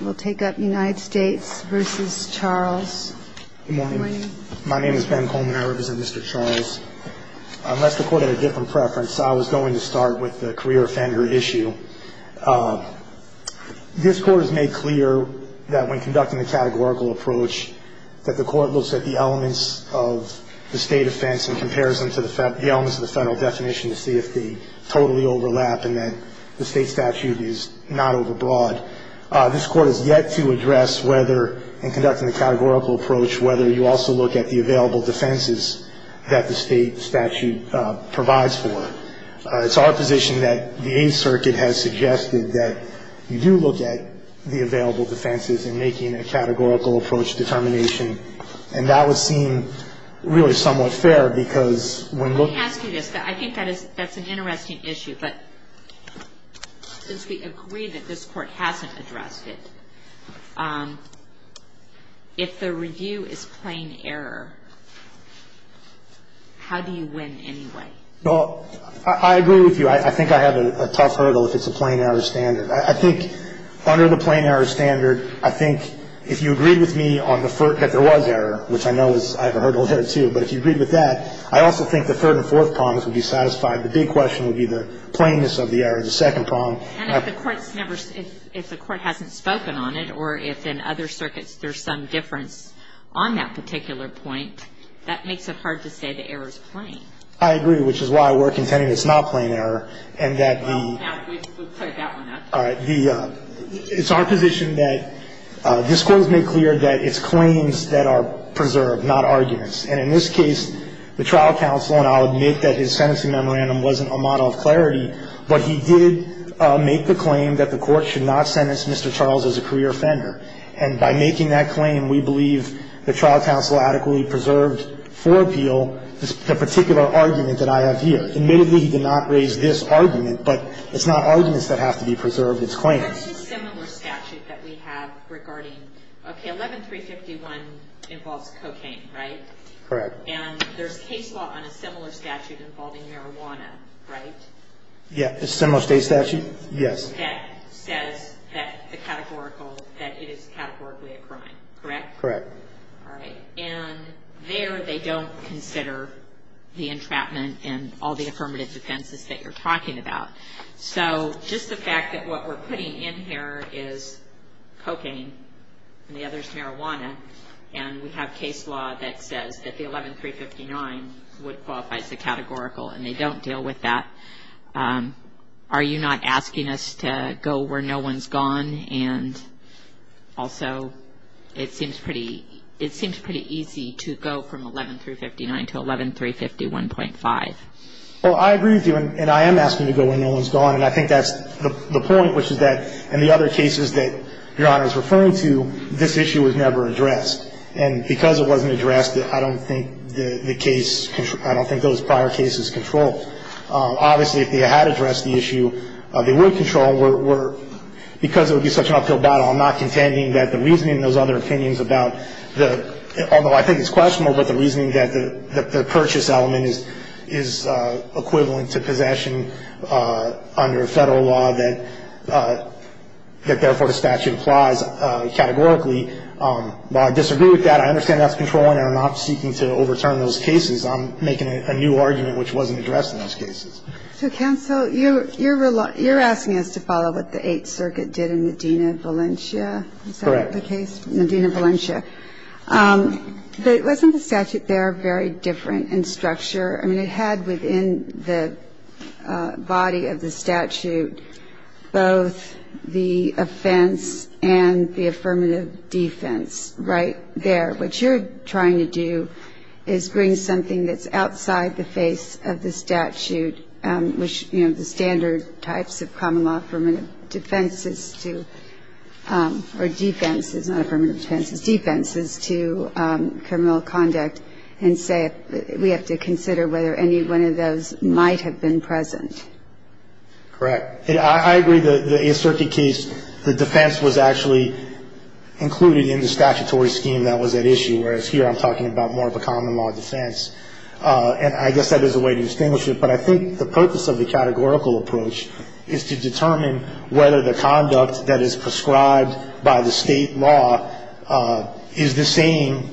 Good morning. My name is Ben Coleman. I represent Mr. Charles. Unless the Court had a different preference, I was going to start with the career offender issue. This Court has made clear that when conducting the categorical approach, that the Court looks at the elements of the state offense in comparison to the elements of the federal definition to see if they totally overlap and that the state statute is not overbroad. This Court has yet to address whether, in conducting the categorical approach, whether you also look at the available defenses that the state statute provides for. It's our position that the Eighth Circuit has suggested that you do look at the available defenses in making a categorical approach determination, and that would seem really somewhat fair because when looking at the available defenses, you look at the available defenses that the state statute provides for. So that's an interesting issue, but since we agree that this Court hasn't addressed it, if the review is plain error, how do you win anyway? Well, I agree with you. I think I have a tough hurdle if it's a plain error standard. I think under the plain error standard, I think if you agreed with me on the first that there was error, which I know I have a hurdle there, too, but if you agreed with that, I also think the third and fourth prongs would be satisfied. The big question would be the plainness of the error, the second prong. And if the Court's never – if the Court hasn't spoken on it or if in other circuits there's some difference on that particular point, that makes it hard to say the error is plain. I agree, which is why we're contending it's not plain error and that the – All right. It's our position that this Court has made clear that it's claims that are preserved, not arguments. And in this case, the trial counsel, and I'll admit that his sentencing memorandum wasn't a model of clarity, but he did make the claim that the Court should not sentence Mr. Charles as a career offender. And by making that claim, we believe the trial counsel adequately preserved for appeal the particular argument that I have here. Admittedly, he did not raise this argument, but it's not arguments that have to be preserved. It's claims. There's a similar statute that we have regarding – okay, 11351 involves cocaine, right? Correct. And there's case law on a similar statute involving marijuana, right? Yeah. A similar state statute? Yes. That says that the categorical – that it is categorically a crime, correct? Correct. All right. And there they don't consider the entrapment and all the affirmative defenses that you're talking about. So just the fact that what we're putting in here is cocaine and the other is marijuana, and we have case law that says that the 11359 would qualify as a categorical, and they don't deal with that. Are you not asking us to go where no one's gone? And also, it seems pretty – it seems pretty easy to go from 11359 to 11351.5. Well, I agree with you, and I am asking to go where no one's gone, and I think that's the point, which is that in the other cases that Your Honor is referring to, this issue was never addressed. And because it wasn't addressed, I don't think the case – I don't think those prior cases controlled. Obviously, if they had addressed the issue, they would control. We're – because it would be such an uphill battle, I'm not contending that the reasoning in those other opinions about the – although I think it's questionable, but the reasoning that the purchase element is equivalent to possession under Federal law that therefore the statute applies categorically. While I disagree with that, I understand that's controlling and are not seeking to overturn those cases. I'm making a new argument which wasn't addressed in those cases. So, counsel, you're – you're asking us to follow what the Eighth Circuit did in Medina-Valencia? Is that the case? Correct. Medina-Valencia. Wasn't the statute there very different in structure? I mean, it had within the body of the statute both the offense and the affirmative defense right there. What you're trying to do is bring something that's outside the face of the statute, which, you know, the standard types of common law affirmative defenses to – or defenses, not affirmative defenses, defenses to criminal conduct, and say we have to consider whether any one of those might have been present. Correct. I agree the Eighth Circuit case, the defense was actually included in the statutory scheme that was at issue, whereas here I'm talking about more of a common law defense. And I guess that is a way to distinguish it, but I think the purpose of the categorical approach is to determine whether the conduct that is prescribed by the State law is the same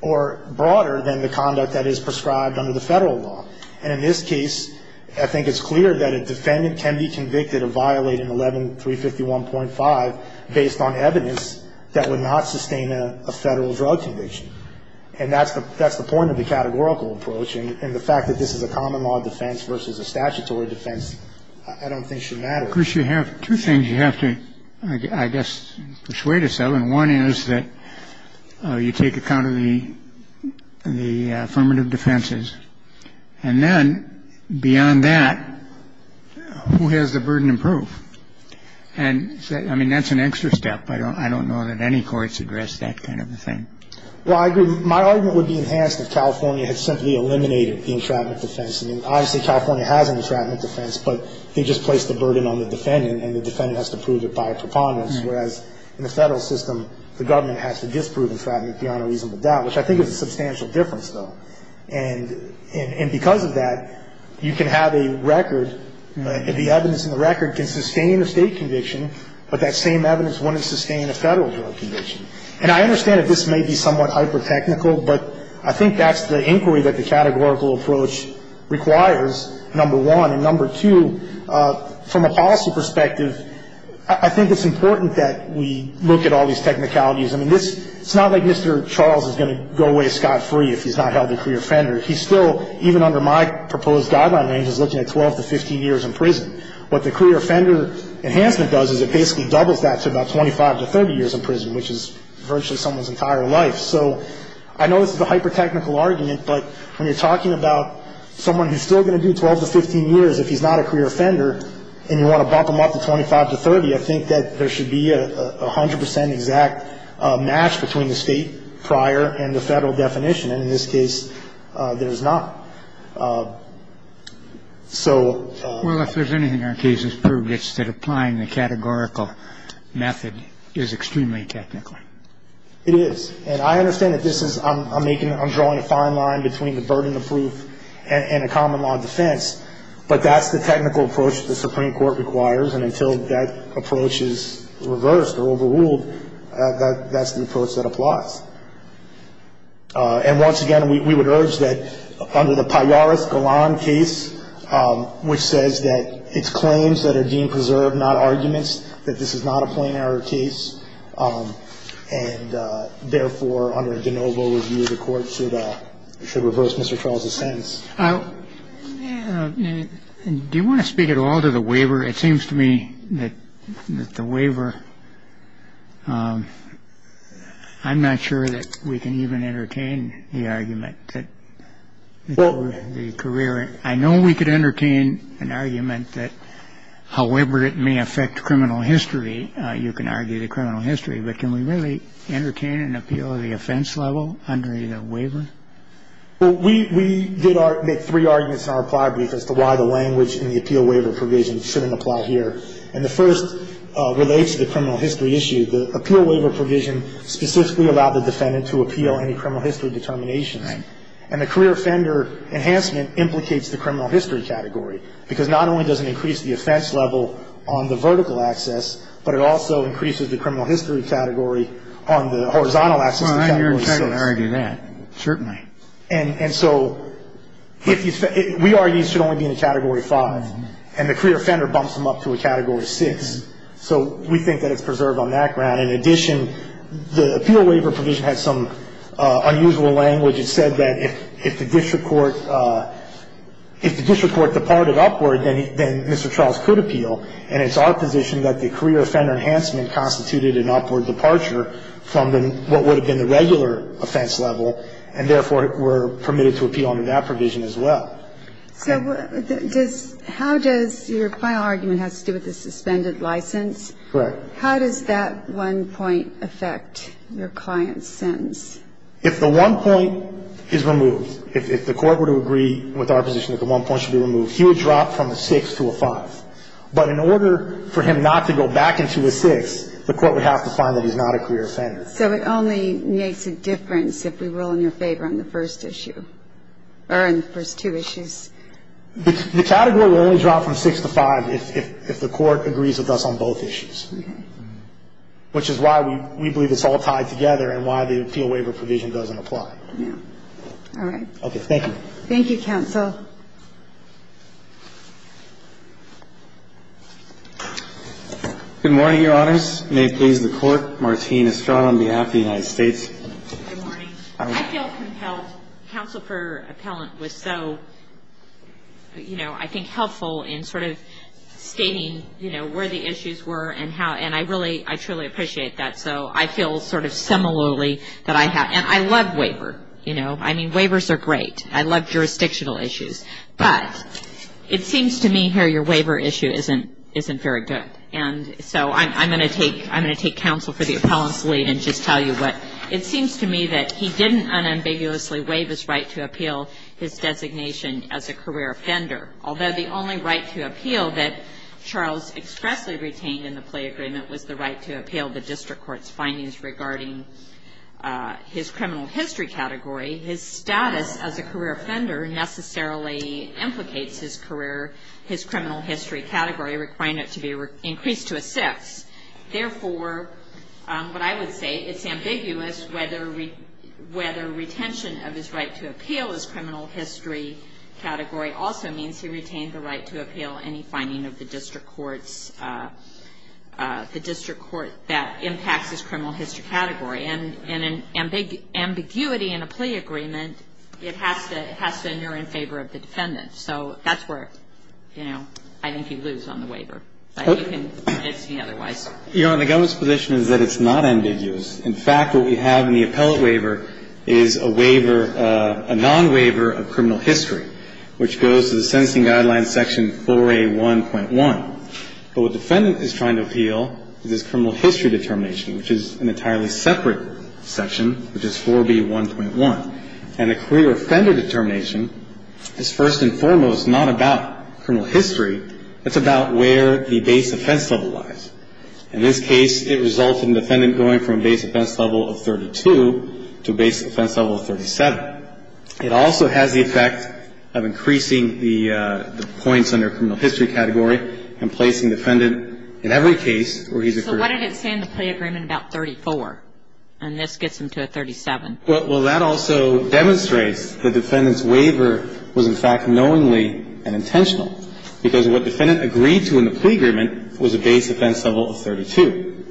or broader than the conduct that is prescribed under the Federal law. And in this case, I think it's clear that a defendant can be convicted of violating 11351.5 based on evidence that would not sustain a Federal drug conviction. And that's the point of the categorical approach. And the fact that this is a common law defense versus a statutory defense I don't think should matter. Of course, you have two things you have to, I guess, persuade yourself. And one is that you take account of the affirmative defenses. And then beyond that, who has the burden of proof? And I mean, that's an extra step. I don't know that any courts address that kind of a thing. Well, I agree. My argument would be enhanced if California had simply eliminated the entrapment defense. I mean, obviously California has an entrapment defense, but they just placed the burden on the defendant and the defendant has to prove it by a preponderance, whereas in the Federal system, the government has to disprove entrapment beyond a reasonable doubt, which I think is a substantial difference, though. And because of that, you can have a record. The evidence in the record can sustain a State conviction, but that same evidence wouldn't sustain a Federal drug conviction. And I understand that this may be somewhat hyper-technical, but I think that's the inquiry that the categorical approach requires, number one. And number two, from a policy perspective, I think it's important that we look at all these technicalities. I mean, it's not like Mr. Charles is going to go away scot-free if he's not held a career offender. He's still, even under my proposed guideline range, is looking at 12 to 15 years in prison. What the career offender enhancement does is it basically doubles that to about 25 to 30 years in prison, which is virtually someone's entire life. So I know this is a hyper-technical argument, but when you're talking about someone who's still going to do 12 to 15 years if he's not a career offender and you want to bump them up to 25 to 30, I think that there should be a 100 percent exact match between the State prior and the Federal definition. And in this case, there is not. So ---- Well, if there's anything our case has proved, it's that applying the categorical method is extremely technical. It is. And I understand that this is ---- I'm making ---- I'm drawing a fine line between the burden of proof and a common law defense, but that's the technical approach the Supreme Court requires, and until that approach is reversed or overruled, that's the approach that applies. And once again, we would urge that under the Pallaris-Golan case, which says that it's claims that are deemed preserved, not arguments, that this is not a plain error case, and therefore, under de novo review, the Court should reverse Mr. Charles's sentence. Do you want to speak at all to the waiver? It seems to me that the waiver ---- I'm not sure that we can even entertain the argument that the career ---- I know we could entertain an argument that however it may affect criminal history, you can argue the criminal history, but can we really entertain an appeal of the offense level under either waiver? Well, we did make three arguments in our reply brief as to why the language in the appeal waiver provision shouldn't apply here. And the first relates to the criminal history issue. The appeal waiver provision specifically allowed the defendant to appeal any criminal history determination. Right. And the career offender enhancement implicates the criminal history category, because not only does it increase the offense level on the vertical access, but it also increases the criminal history category on the horizontal access to Category 6. Well, I hear your tendency to argue that. Certainly. And so if you ---- we argue it should only be in the Category 5, and the career offender bumps them up to a Category 6. So we think that it's preserved on that ground. In addition, the appeal waiver provision has some unusual language. It said that if the district court ---- if the district court departed upward, then Mr. Charles could appeal. And it's our position that the career offender enhancement constituted an upward departure from the ---- what would have been the regular offense level, and therefore were permitted to appeal under that provision as well. So does ---- how does ---- your final argument has to do with the suspended license. Correct. How does that one point affect your client's sentence? If the one point is removed, if the court were to agree with our position that the one point should be removed, he would drop from a 6 to a 5. But in order for him not to go back into a 6, the court would have to find that he's not a career offender. So it only makes a difference if we rule in your favor on the first issue, or on the first two issues. The Category will only drop from 6 to 5 if the court agrees with us on both issues. Okay. Which is why we believe it's all tied together and why the appeal waiver provision doesn't apply. All right. Okay. Thank you. Thank you, counsel. Good morning, Your Honors. May it please the Court. Martine Estrada on behalf of the United States. Good morning. I feel compelled. Counsel for Appellant was so, you know, I think helpful in sort of stating, you know, where the issues were and how ---- and I really, I truly appreciate that. So I feel sort of similarly that I have. And I love waiver, you know. I mean, waivers are great. I love jurisdictional issues. But it seems to me here your waiver issue isn't very good. And so I'm going to take counsel for the Appellant's lead and just tell you what. It seems to me that he didn't unambiguously waive his right to appeal his designation as a career offender. Although the only right to appeal that Charles expressly retained in the play agreement was the right to appeal the his career, his criminal history category, requiring it to be increased to a sixth. Therefore, what I would say, it's ambiguous whether retention of his right to appeal his criminal history category also means he retained the right to appeal any finding of the district courts, the district court that impacts his criminal history category. And in ambiguity in a plea agreement, it has to endure in favor of the defendant. So that's where, you know, I think you lose on the waiver. But you can fix me otherwise. You know, and the government's position is that it's not ambiguous. In fact, what we have in the Appellant waiver is a waiver, a non-waiver of criminal history, which goes to the Sentencing Guidelines Section 4A1.1. But what the defendant is trying to appeal is his criminal history determination, which is an entirely separate section, which is 4B1.1. And a career offender determination is first and foremost not about criminal history. It's about where the base offense level lies. In this case, it resulted in the defendant going from a base offense level of 32 to a base offense level of 37. But it also has the effect of increasing the points under criminal history category and placing the defendant in every case where he's a career offender. So what did it say in the plea agreement about 34? And this gets him to a 37. Well, that also demonstrates the defendant's waiver was, in fact, knowingly and intentional because what the defendant agreed to in the plea agreement was a base offense level of 32.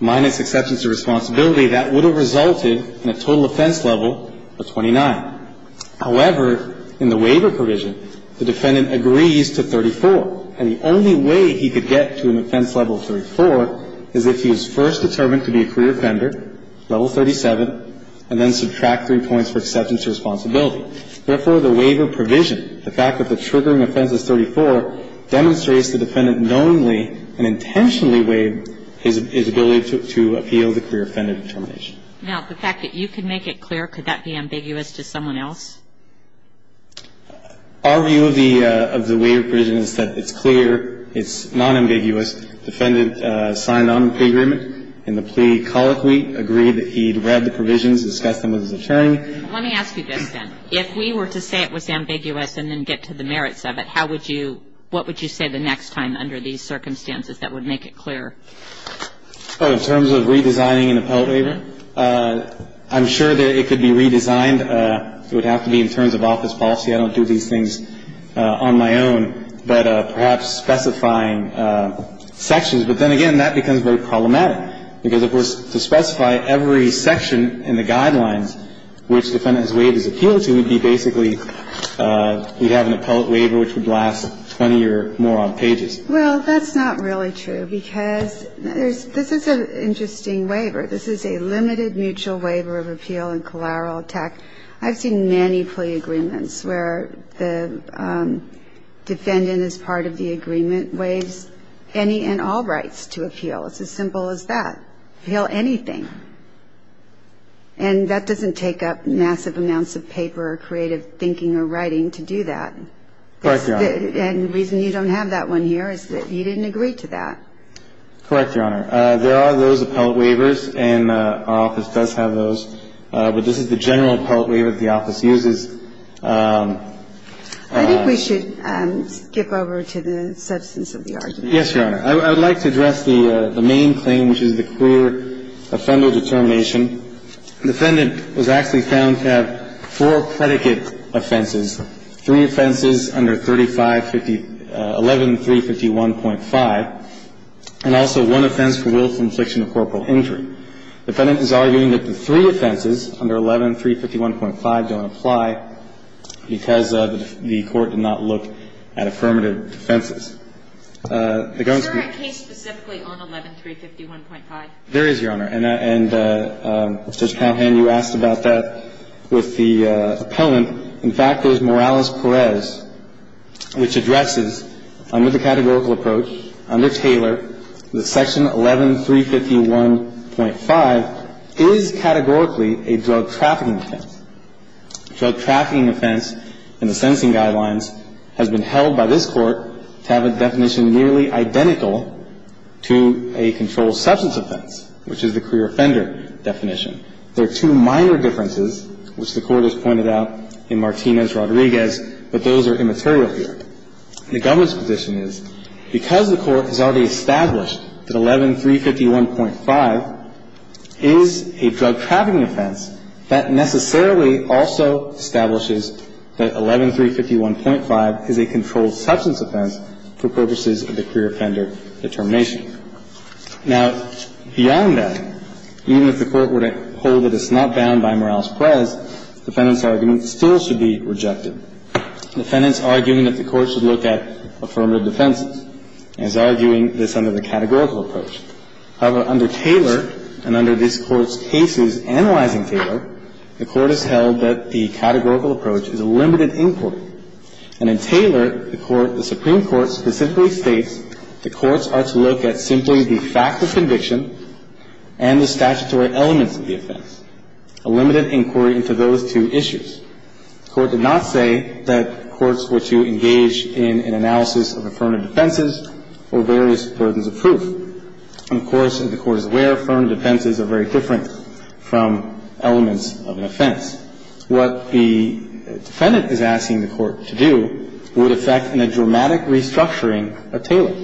Minus exceptions to responsibility, that would have resulted in a total offense level of 29. However, in the waiver provision, the defendant agrees to 34. And the only way he could get to an offense level of 34 is if he was first determined to be a career offender, level 37, and then subtract three points for exceptions to responsibility. Therefore, the waiver provision, the fact that the triggering offense is 34, demonstrates the defendant knowingly and intentionally waived his ability to appeal the career offender determination. Now, the fact that you can make it clear, could that be ambiguous to someone else? Our view of the waiver provision is that it's clear, it's nonambiguous. The defendant signed on to the agreement in the plea colloquy, agreed that he'd read the provisions, discussed them with his attorney. Let me ask you this, then. If we were to say it was ambiguous and then get to the merits of it, how would you what would you say the next time under these circumstances that would make it clearer? In terms of redesigning an appellate waiver, I'm sure that it could be redesigned. It would have to be in terms of office policy. I don't do these things on my own. But perhaps specifying sections. But then again, that becomes very problematic. Because, of course, to specify every section in the guidelines which the defendant has waived his appeal to would be basically we'd have an appellate waiver which would last 20 or more pages. Well, that's not really true. Because this is an interesting waiver. This is a limited mutual waiver of appeal and collateral attack. I've seen many plea agreements where the defendant is part of the agreement, waives any and all rights to appeal. It's as simple as that. Appeal anything. And that doesn't take up massive amounts of paper or creative thinking or writing to do that. Correct, Your Honor. And the reason you don't have that one here is that you didn't agree to that. Correct, Your Honor. There are those appellate waivers, and our office does have those. But this is the general appellate waiver that the office uses. I think we should skip over to the substance of the argument. Yes, Your Honor. I would like to address the main claim, which is the queer offender determination. The defendant was actually found to have four predicate offenses, three offenses under 3550 11351.5, and also one offense for willful infliction of corporal injury. The defendant is arguing that the three offenses under 11351.5 don't apply because the court did not look at affirmative defenses. Is there a case specifically on 11351.5? There is, Your Honor. And, Judge Calhoun, you asked about that with the appellant. In fact, there's Morales-Perez, which addresses, under the categorical approach, under Taylor, that Section 11351.5 is categorically a drug trafficking offense. Drug trafficking offense in the sentencing guidelines has been held by this Court to have a definition nearly identical to a controlled substance offense, which is the queer offender definition. There are two minor differences, which the Court has pointed out in Martinez-Rodriguez, but those are immaterial here. The government's position is because the Court has already established that 11351.5 is a drug trafficking offense, that necessarily also establishes that 11351.5 is a controlled substance offense for purposes of the queer offender determination. Now, beyond that, even if the Court were to hold that it's not bound by Morales-Perez, the defendant's argument still should be rejected. The defendant's arguing that the Court should look at affirmative defenses and is arguing this under the categorical approach. However, under Taylor, and under this Court's cases analyzing Taylor, the Court has held that the categorical approach is a limited inquiry. And in Taylor, the Supreme Court specifically states the courts are to look at simply the fact of conviction and the statutory elements of the offense, a limited inquiry into those two issues. The Court did not say that courts were to engage in an analysis of affirmative defenses or various versions of proof. Of course, the Court is aware affirmative defenses are very different from elements of an offense. What the defendant is asking the Court to do would affect in a dramatic restructuring of Taylor,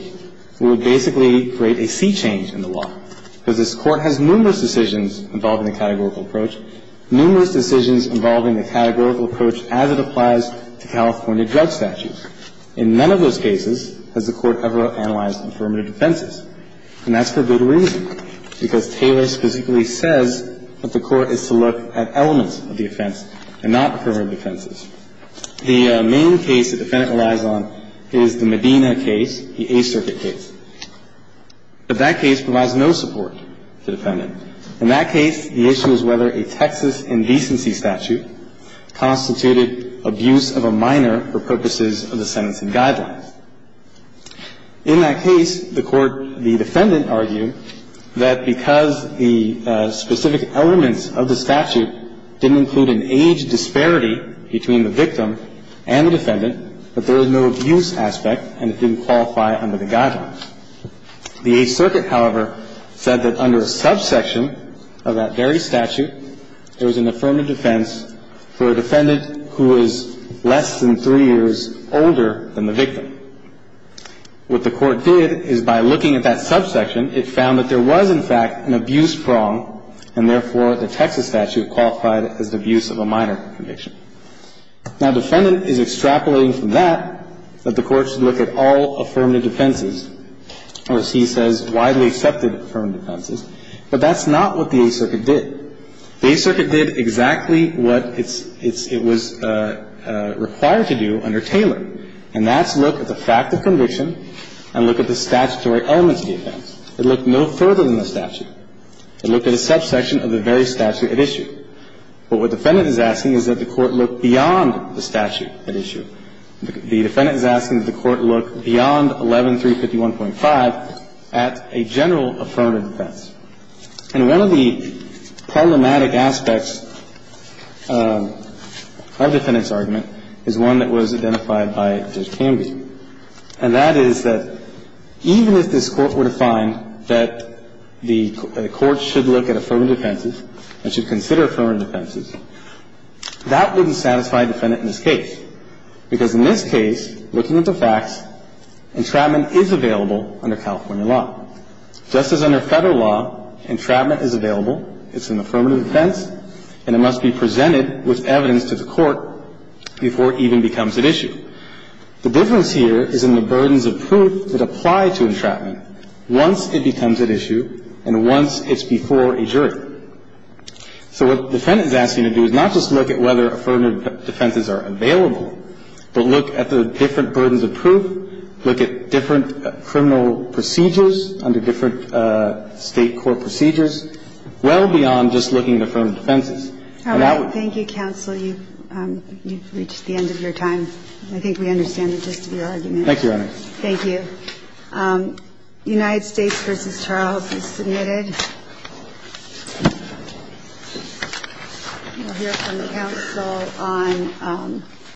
would basically create a sea change in the law, because this Court has numerous decisions involving the categorical approach, numerous decisions involving the categorical approach as it applies to California drug statutes. In none of those cases has the Court ever analyzed affirmative defenses. And that's for good reason, because Taylor specifically says that the Court is to look at elements of the offense and not affirmative defenses. The main case the defendant relies on is the Medina case, the Eighth Circuit case. But that case provides no support to the defendant. In that case, the issue is whether a Texas indecency statute constituted abuse of a minor for purposes of the sentencing guidelines. In that case, the Court, the defendant argued that because the specific elements of the statute didn't include an age disparity between the victim and the defendant, that there was no abuse aspect and it didn't qualify under the guidelines. The Eighth Circuit, however, said that under a subsection of that very statute, there was an affirmative defense for a defendant who is less than three years older than the victim. What the Court did is by looking at that subsection, it found that there was, in fact, an abuse prong and, therefore, the Texas statute qualified it as the abuse of a minor conviction. Now, defendant is extrapolating from that that the Court should look at all affirmative defenses or, as he says, widely accepted affirmative defenses. But that's not what the Eighth Circuit did. The Eighth Circuit did exactly what it's – it was required to do under Taylor, and that's look at the fact of conviction and look at the statutory elements of the offense. It looked no further than the statute. It looked at a subsection of the very statute at issue. But what defendant is asking is that the Court look beyond the statute at issue. The defendant is asking that the Court look beyond 11351.5 at a general affirmative defense. And one of the problematic aspects of the defendant's argument is one that was identified by Judge Canby, and that is that even if this Court were to find that the Court should look at affirmative defenses and should consider affirmative defenses, that wouldn't satisfy a defendant in this case, because in this case, looking at the facts, entrapment is available under California law. Just as under Federal law, entrapment is available. It's an affirmative defense, and it must be presented with evidence to the Court before it even becomes at issue. The difference here is in the burdens of proof that apply to entrapment once it becomes at issue and once it's before a jury. So what the defendant is asking to do is not just look at whether affirmative defenses are available, but look at the different burdens of proof, look at different criminal procedures under different State court procedures, well beyond just looking at affirmative defenses. And that would be the case. All right. Thank you, counsel. You've reached the end of your time. I think we understand the gist of your argument. Thank you, Your Honor. Thank you. We'll hear from the counsel on the next case.